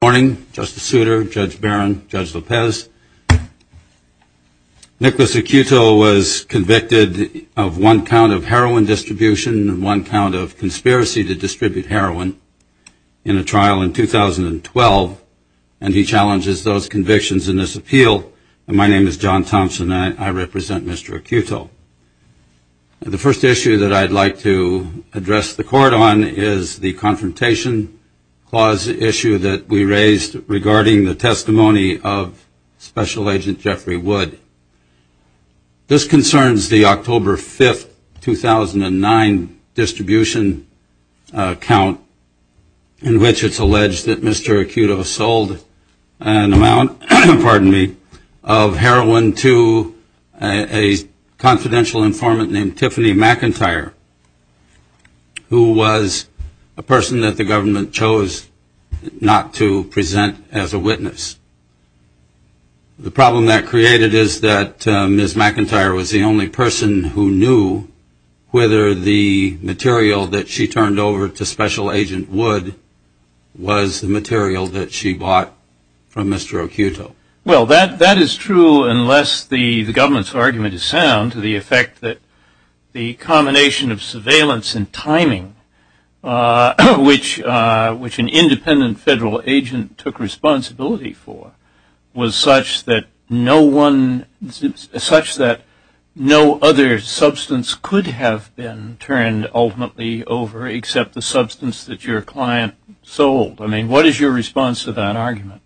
Good morning, Justice Souter, Judge Barron, Judge Lopez. Nicholas Occhiuto was convicted of one count of heroin distribution and one count of conspiracy to distribute heroin in a trial in 2012, and he challenges those convictions in this appeal. My name is John Thompson. I represent Mr. Occhiuto. The first issue that I'd like to address the court on is the confrontation clause issue that we raised regarding the testimony of Special Agent Jeffrey Wood. This concerns the October 5, 2009 distribution count in which it's alleged that Mr. Occhiuto sold an amount, pardon me, of heroin to a confidential informant named Tiffany McIntyre, who was a person that the government chose not to present as a witness. The problem that created is that Ms. McIntyre was the only person who knew whether the material that she turned over to Special Agent Wood was the material that she bought from Mr. Occhiuto. Well, that is true unless the government's argument is sound to the effect that the combination of surveillance and timing, which an independent federal agent took responsibility for, was such that no other substance could have been turned ultimately over except the substance that your client sold. I mean, what is your response to that argument?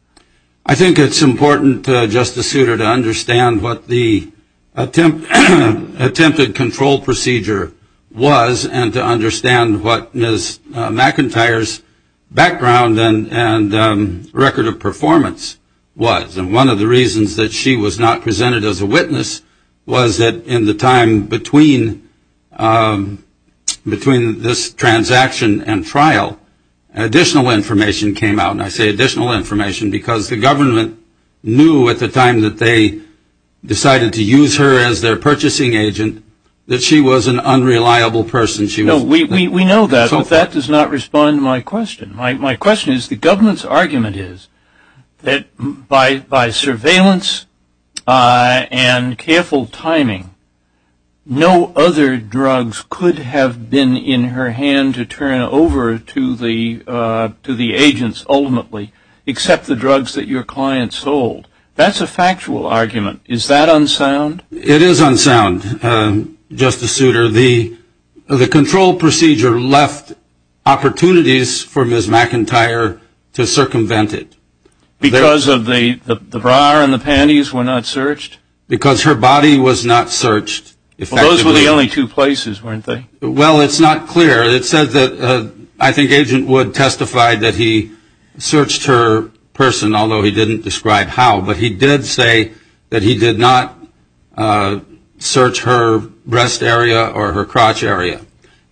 I think it's important, Justice Souter, to understand what the attempted control procedure was and to understand what Ms. McIntyre's background and record of performance was. And one of the reasons that she was not presented as a witness was that in the time between this transaction and trial, additional information came out. And I say additional information because the government knew at the time that they decided to use her as their purchasing agent that she was an unreliable person. No, we know that, but that does not respond to my question. My question is the government's argument is that by surveillance and careful timing, no other drugs could have been in her hand to turn over to the agents ultimately except the drugs that your client sold. That's a factual argument. Is that unsound? It is unsound, Justice Souter. The control procedure left opportunities for Ms. McIntyre to circumvent it. Because the bra and the panties were not searched? Because her body was not searched effectively. Well, those were the only two places, weren't they? Well, it's not clear. It says that I think Agent Wood testified that he searched her person, although he didn't describe how. But he did say that he did not search her breast area or her crotch area.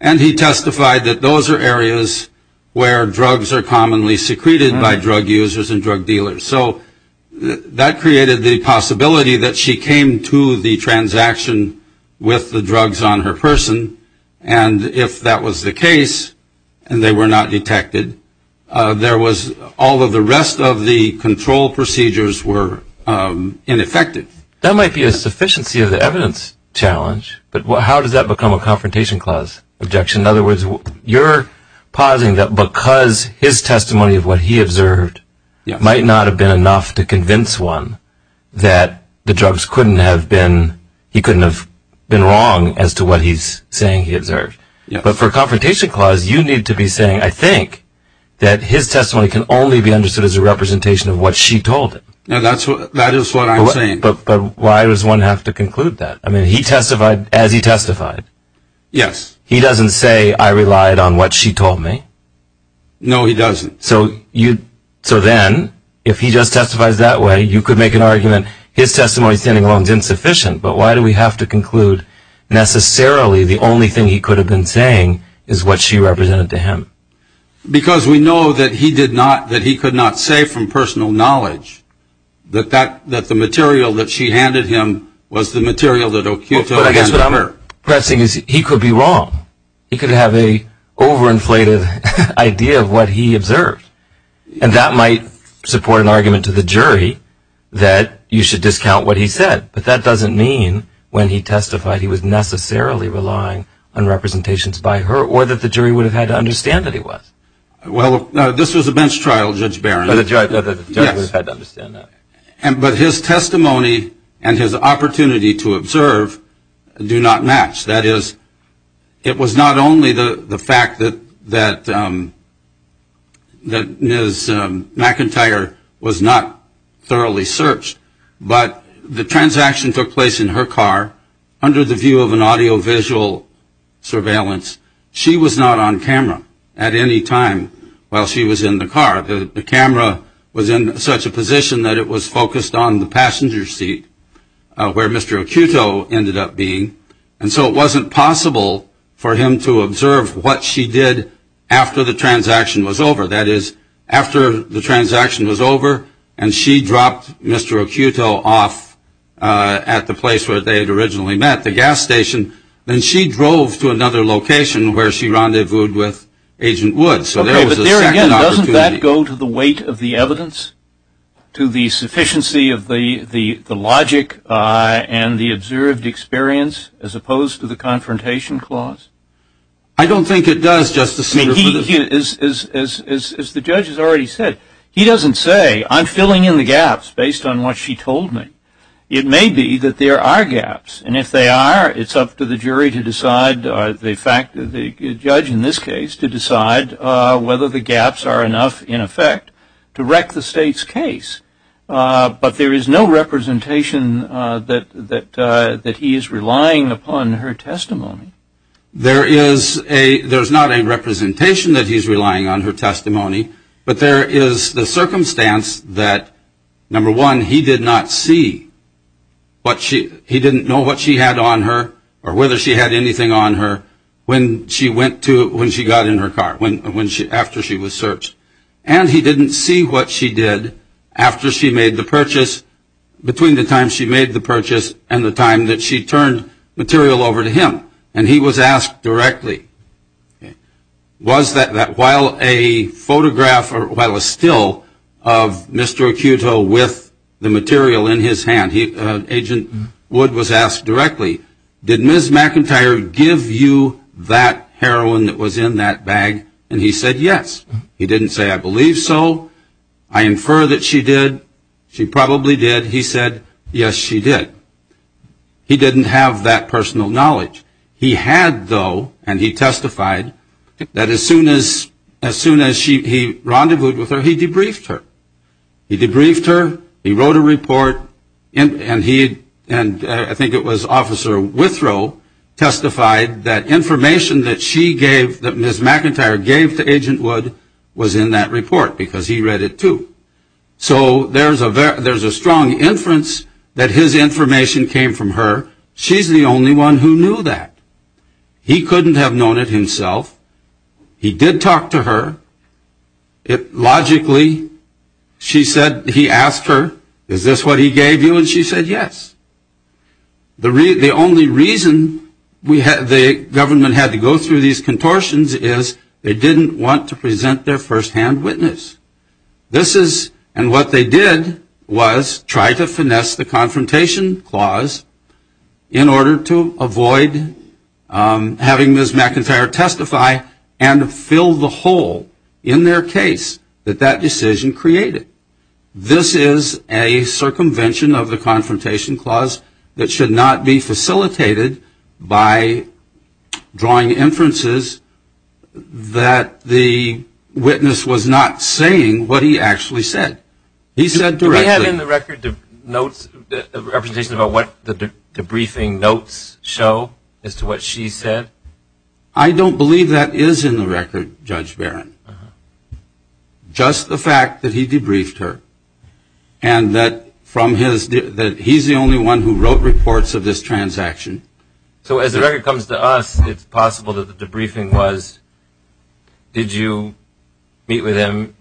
And he testified that those are areas where drugs are commonly secreted by drug users and drug dealers. So that created the possibility that she came to the transaction with the drugs on her person, and if that was the case and they were not detected, all of the rest of the control procedures were ineffective. That might be a sufficiency of the evidence challenge, but how does that become a confrontation clause objection? In other words, you're pausing because his testimony of what he observed might not have been enough to convince one that the drugs couldn't have been wrong as to what he's saying he observed. But for a confrontation clause, you need to be saying, I think, that his testimony can only be understood as a representation of what she told him. That is what I'm saying. But why does one have to conclude that? I mean, he testified as he testified. Yes. He doesn't say, I relied on what she told me. No, he doesn't. So then, if he just testifies that way, you could make an argument, his testimony standing alone is insufficient, but why do we have to conclude necessarily the only thing he could have been saying is what she represented to him? Because we know that he could not say from personal knowledge that the material that she handed him was the material that O'Keeffe told him. I guess what I'm pressing is he could be wrong. He could have an overinflated idea of what he observed, and that might support an argument to the jury that you should discount what he said. But that doesn't mean when he testified he was necessarily relying on representations by her or that the jury would have had to understand that he was. Well, this was a bench trial, Judge Barron. The judge would have had to understand that. But his testimony and his opportunity to observe do not match. That is, it was not only the fact that Ms. McIntyre was not thoroughly searched, but the transaction took place in her car under the view of an audiovisual surveillance. She was not on camera at any time while she was in the car. The camera was in such a position that it was focused on the passenger seat where Mr. O'Keeffe ended up being. And so it wasn't possible for him to observe what she did after the transaction was over. That is, after the transaction was over and she dropped Mr. O'Keeffe off at the place where they had originally met, the gas station, then she drove to another location where she rendezvoused with Agent Woods. So there was a second opportunity. Okay, but there again, doesn't that go to the weight of the evidence, to the sufficiency of the logic and the observed experience as opposed to the confrontation clause? I don't think it does, Justice Breyer. As the judge has already said, he doesn't say, I'm filling in the gaps based on what she told me. It may be that there are gaps. And if they are, it's up to the jury to decide, the judge in this case, to decide whether the gaps are enough, in effect, to wreck the state's case. But there is no representation that he is relying upon her testimony. There is not a representation that he's relying on her testimony, but there is the circumstance that, number one, he did not see what she, he didn't know what she had on her or whether she had anything on her when she went to, when she got in her car, after she was searched. And he didn't see what she did after she made the purchase, between the time she made the purchase and the time that she turned material over to him. And he was asked directly, was that while a photograph, or while a still of Mr. Acuto with the material in his hand, Agent Wood was asked directly, did Ms. McIntyre give you that heroin that was in that bag? And he said yes. He didn't say, I believe so. I infer that she did. She probably did. He said, yes, she did. He didn't have that personal knowledge. He had, though, and he testified, that as soon as he rendezvoused with her, he debriefed her. He debriefed her. He wrote a report. And he, and I think it was Officer Withrow, testified that information that she gave, that Ms. McIntyre gave to Agent Wood, was in that report because he read it too. So there's a strong inference that his information came from her. She's the only one who knew that. He couldn't have known it himself. He did talk to her. Logically, she said, he asked her, is this what he gave you? And she said yes. The only reason the government had to go through these contortions is they didn't want to present their firsthand witness. This is, and what they did was try to finesse the confrontation clause in order to avoid having Ms. McIntyre testify and fill the hole in their case that that decision created. This is a circumvention of the confrontation clause that should not be facilitated by drawing inferences that the witness was not saying what he actually said. He said directly. Do we have in the record notes, representations about what the debriefing notes show as to what she said? I don't believe that is in the record, Judge Barron. Just the fact that he debriefed her and that from his, that he's the only one who wrote reports of this transaction. So as the record comes to us, it's possible that the debriefing was, did you meet with him?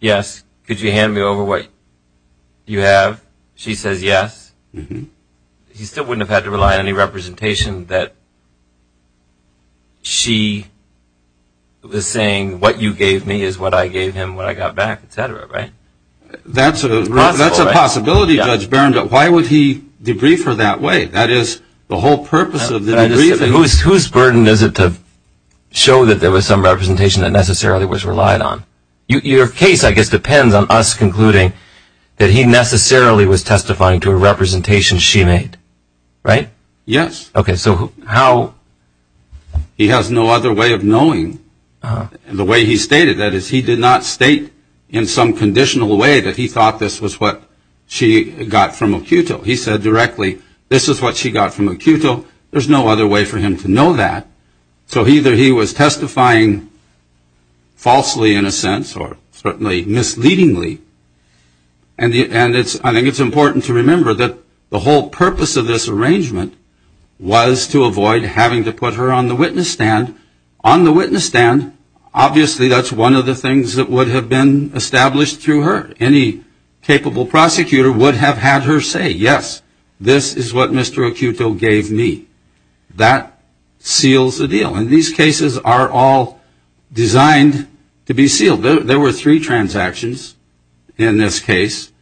Yes. Could you hand me over what you have? She says yes. He still wouldn't have had to rely on any representation that she was saying, what you gave me is what I gave him when I got back, et cetera, right? That's a possibility, Judge Barron, but why would he debrief her that way? That is the whole purpose of the debriefing. Whose burden is it to show that there was some representation that necessarily was relied on? Your case, I guess, depends on us concluding that he necessarily was testifying to a representation she made, right? Yes. Okay. So how? He has no other way of knowing the way he stated that. He did not state in some conditional way that he thought this was what she got from a QTIL. He said directly, this is what she got from a QTIL. There's no other way for him to know that. So either he was testifying falsely, in a sense, or certainly misleadingly. And I think it's important to remember that the whole purpose of this arrangement was to avoid having to put her on the witness stand. On the witness stand, obviously, that's one of the things that would have been established through her. Any capable prosecutor would have had her say, yes, this is what Mr. QTIL gave me. That seals the deal. And these cases are all designed to be sealed. There were three transactions in this case.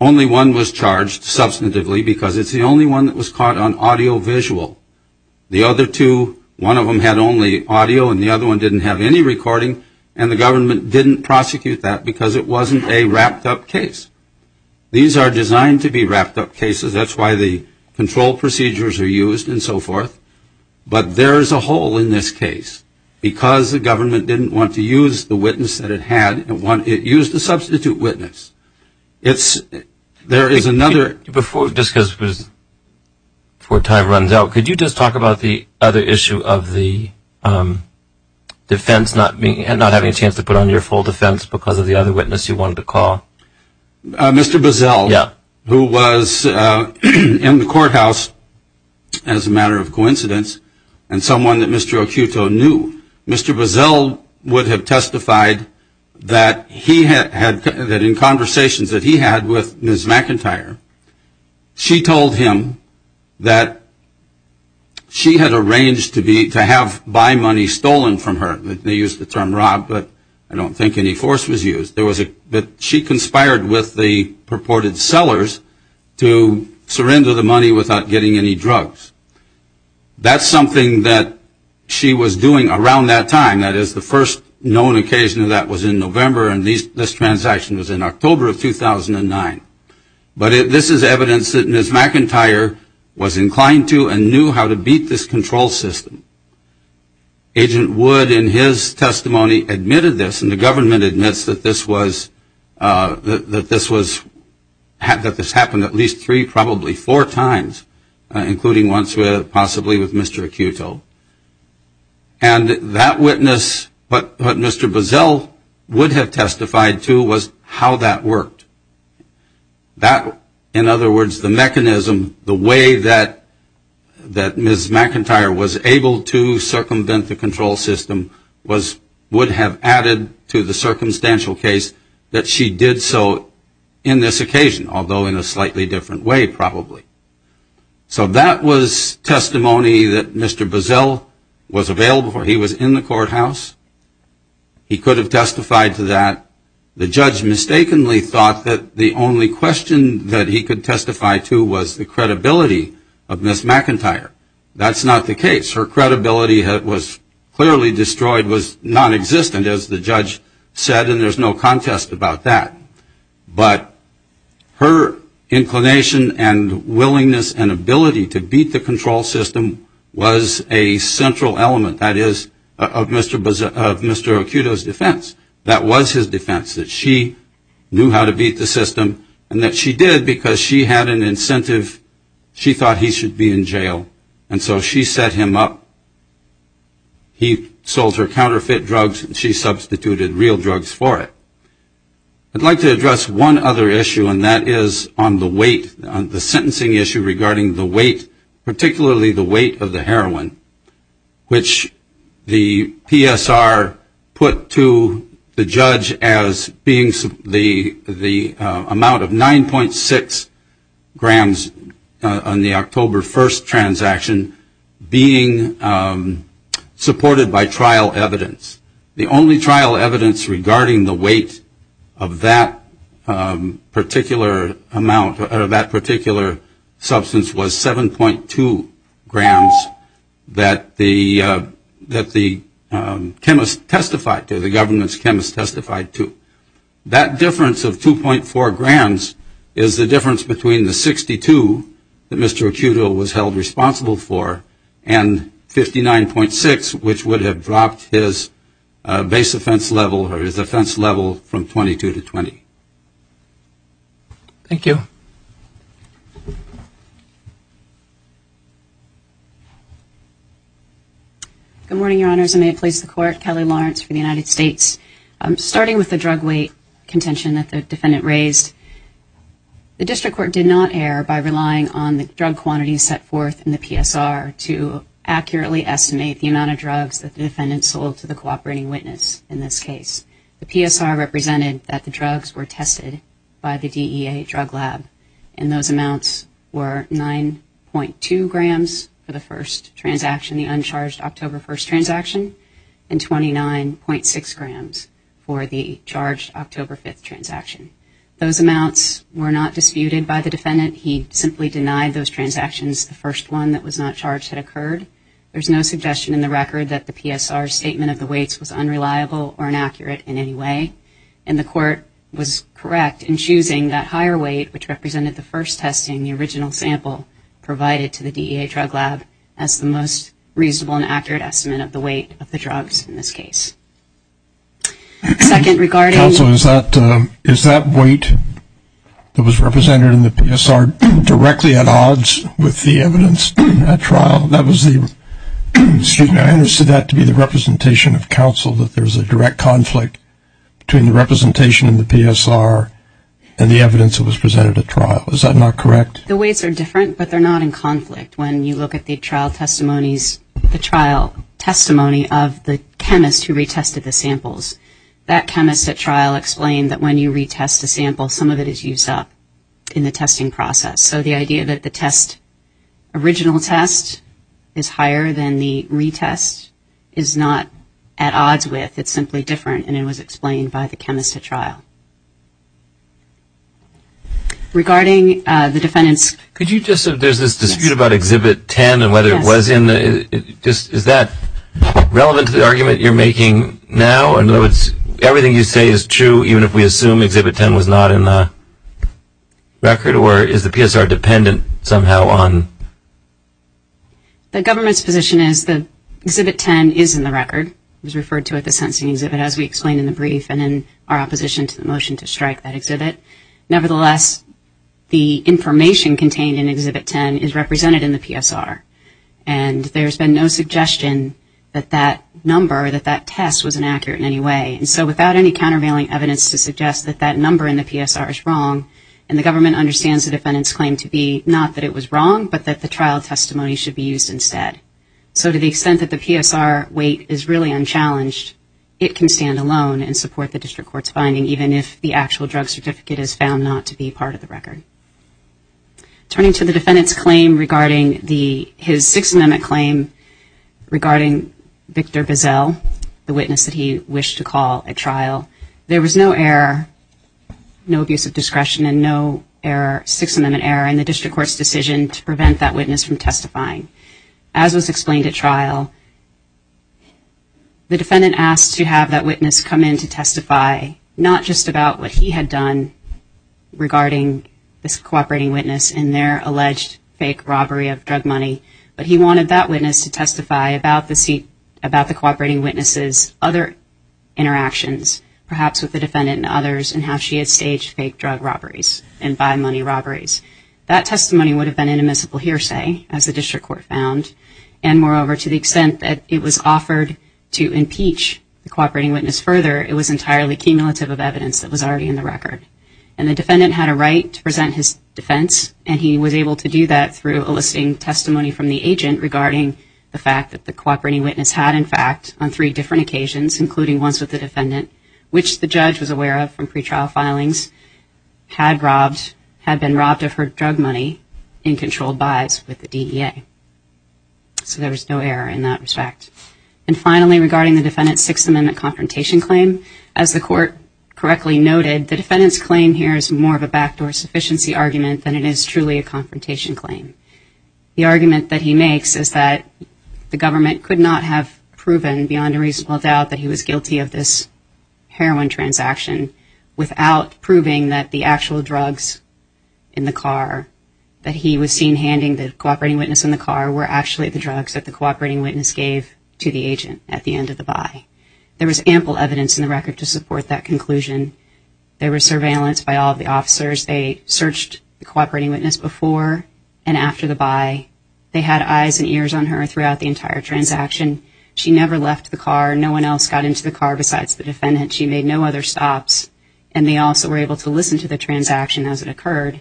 Only one was charged substantively because it's the only one that was caught on audiovisual. The other two, one of them had only audio and the other one didn't have any recording, and the government didn't prosecute that because it wasn't a wrapped-up case. These are designed to be wrapped-up cases. That's why the control procedures are used and so forth. But there is a hole in this case because the government didn't want to use the witness that it had. It used a substitute witness. Before time runs out, could you just talk about the other issue of the defense not having a chance to put on your full defense because of the other witness you wanted to call? Mr. Boesel, who was in the courthouse, as a matter of coincidence, and someone that Mr. QTIL knew, Mr. Boesel would have testified that in conversations that he had with Ms. McIntyre, she told him that she had arranged to have buy money stolen from her. They used the term robbed, but I don't think any force was used. She conspired with the purported sellers to surrender the money without getting any drugs. That's something that she was doing around that time. That is, the first known occasion of that was in November, and this transaction was in October of 2009. But this is evidence that Ms. McIntyre was inclined to and knew how to beat this control system. Agent Wood, in his testimony, admitted this, and the government admits that this happened at least three, probably four times, including once possibly with Mr. QTIL. And that witness, what Mr. Boesel would have testified to was how that worked. In other words, the mechanism, the way that Ms. McIntyre was able to circumvent the control system would have added to the circumstantial case that she did so in this occasion, although in a slightly different way, probably. So that was testimony that Mr. Boesel was available, he was in the courthouse. He could have testified to that. The judge mistakenly thought that the only question that he could testify to was the credibility of Ms. McIntyre. That's not the case. Her credibility was clearly destroyed, was nonexistent, as the judge said, and there's no contest about that. But her inclination and willingness and ability to beat the control system was a central element, that is, of Mr. O'Kudo's defense. That was his defense, that she knew how to beat the system and that she did because she had an incentive. She thought he should be in jail. And so she set him up. He sold her counterfeit drugs and she substituted real drugs for it. I'd like to address one other issue, and that is on the weight, the sentencing issue regarding the weight, particularly the weight of the heroin, which the PSR put to the judge as being the amount of 9.6 grams on the October 1st transaction being supported by trial evidence. The only trial evidence regarding the weight of that particular substance was 7.2 grams that the government's chemist testified to. That difference of 2.4 grams is the difference between the 62 that Mr. O'Kudo was held responsible for and 59.6, which would have dropped his base offense level or his offense level from 22 to 20. Thank you. Good morning, Your Honors. May it please the Court. Kelly Lawrence for the United States. Starting with the drug weight contention that the defendant raised, the district court did not err by relying on the drug quantities set forth in the PSR to accurately estimate the amount of drugs that the defendant sold to the cooperating witness in this case. The PSR represented that the drugs were tested by the DEA drug lab, and those amounts were 9.2 grams for the first transaction, the uncharged October 1st transaction, and 29.6 grams for the charged October 5th transaction. Those amounts were not disputed by the defendant. He simply denied those transactions. The first one that was not charged had occurred. There's no suggestion in the record that the PSR's statement of the weights was unreliable or inaccurate in any way, and the court was correct in choosing that higher weight, which represented the first test in the original sample provided to the DEA drug lab, as the most reasonable and accurate estimate of the weight of the drugs in this case. Second, regarding... Counsel, is that weight that was represented in the PSR directly at odds with the evidence at trial? That was the, excuse me, I understood that to be the representation of counsel, that there was a direct conflict between the representation in the PSR and the evidence that was presented at trial. Is that not correct? The weights are different, but they're not in conflict. When you look at the trial testimonies, the trial testimony of the chemist who retested the samples, that chemist at trial explained that when you retest a sample, some of it is used up in the testing process. So the idea that the test, original test, is higher than the retest is not at odds with. It's simply different, and it was explained by the chemist at trial. Regarding the defendant's... Yes. Is that relevant to the argument you're making now? In other words, everything you say is true, even if we assume Exhibit 10 was not in the record? Or is the PSR dependent somehow on... The government's position is that Exhibit 10 is in the record. It was referred to at the sentencing exhibit, as we explained in the brief, and in our opposition to the motion to strike that exhibit. Nevertheless, the information contained in Exhibit 10 is represented in the PSR, and there's been no suggestion that that number, that that test was inaccurate in any way. So without any countervailing evidence to suggest that that number in the PSR is wrong, and the government understands the defendant's claim to be not that it was wrong, but that the trial testimony should be used instead. So to the extent that the PSR weight is really unchallenged, it can stand alone and support the district court's finding, even if the actual drug certificate is found not to be part of the record. Turning to the defendant's claim regarding the... His Sixth Amendment claim regarding Victor Bizzell, the witness that he wished to call at trial, there was no error, no abuse of discretion, and no Sixth Amendment error in the district court's decision to prevent that witness from testifying. As was explained at trial, the defendant asked to have that witness come in to testify, not just about what he had done regarding this cooperating witness and their alleged fake robbery of drug money, but he wanted that witness to testify about the cooperating witness's other interactions, perhaps with the defendant and others, and how she had staged fake drug robberies and buy money robberies. That testimony would have been an admissible hearsay, as the district court found, and moreover, to the extent that it was offered to impeach the cooperating witness further, it was entirely cumulative of evidence that was already in the record. And the defendant had a right to present his defense, and he was able to do that through a listing testimony from the agent regarding the fact that the cooperating witness had, in fact, on three different occasions, including once with the defendant, which the judge was aware of from pretrial filings, had been robbed of her drug money in controlled buys with the DEA. So there was no error in that respect. And finally, regarding the defendant's Sixth Amendment confrontation claim, as the court correctly noted, the defendant's claim here is more of a backdoor sufficiency argument than it is truly a confrontation claim. The argument that he makes is that the government could not have proven, beyond a reasonable doubt, that he was guilty of this heroin transaction without proving that the actual drugs in the car, that he was seen handing the cooperating witness in the car, were actually the drugs that the cooperating witness gave to the agent at the end of the buy. There was ample evidence in the record to support that conclusion. There was surveillance by all of the officers. They searched the cooperating witness before and after the buy. They had eyes and ears on her throughout the entire transaction. She never left the car. No one else got into the car besides the defendant. She made no other stops, and they also were able to listen to the transaction as it occurred.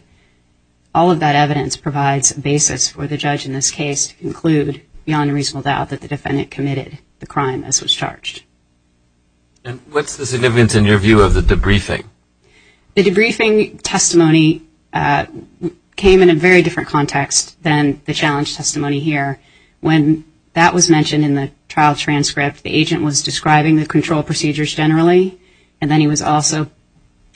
All of that evidence provides a basis for the judge in this case to conclude, beyond a reasonable doubt, that the defendant committed the crime as was charged. And what's the significance in your view of the debriefing? The debriefing testimony came in a very different context than the challenge testimony here. When that was mentioned in the trial transcript, the agent was describing the control procedures generally, and then he was also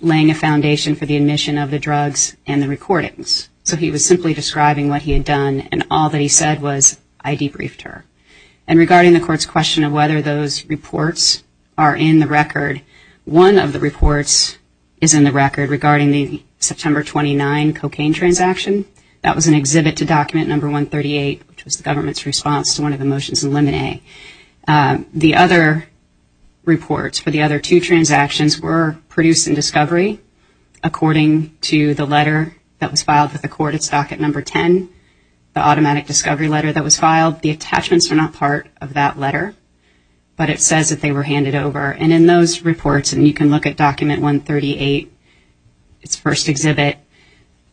laying a foundation for the admission of the drugs and the recordings. So he was simply describing what he had done, and all that he said was, I debriefed her. And regarding the court's question of whether those reports are in the record, one of the reports is in the record regarding the September 29 cocaine transaction. That was an exhibit to Document No. 138, which was the government's response to one of the motions in Limine. The other reports for the other two transactions were produced in discovery, according to the letter that was filed with the court. It's Docket No. 10, the automatic discovery letter that was filed. The attachments are not part of that letter, but it says that they were handed over. And in those reports, and you can look at Document No. 138, its first exhibit,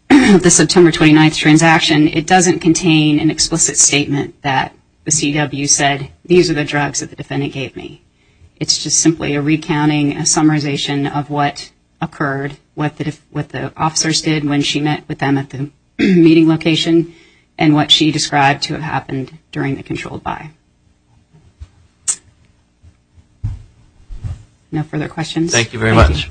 the September 29 transaction, it doesn't contain an explicit statement that the CW said, these are the drugs that the defendant gave me. It's just simply a recounting, a summarization of what occurred, what the officers did when she met with them at the meeting location, and what she described to have happened during the controlled buy. No further questions? Thank you very much. Thank you.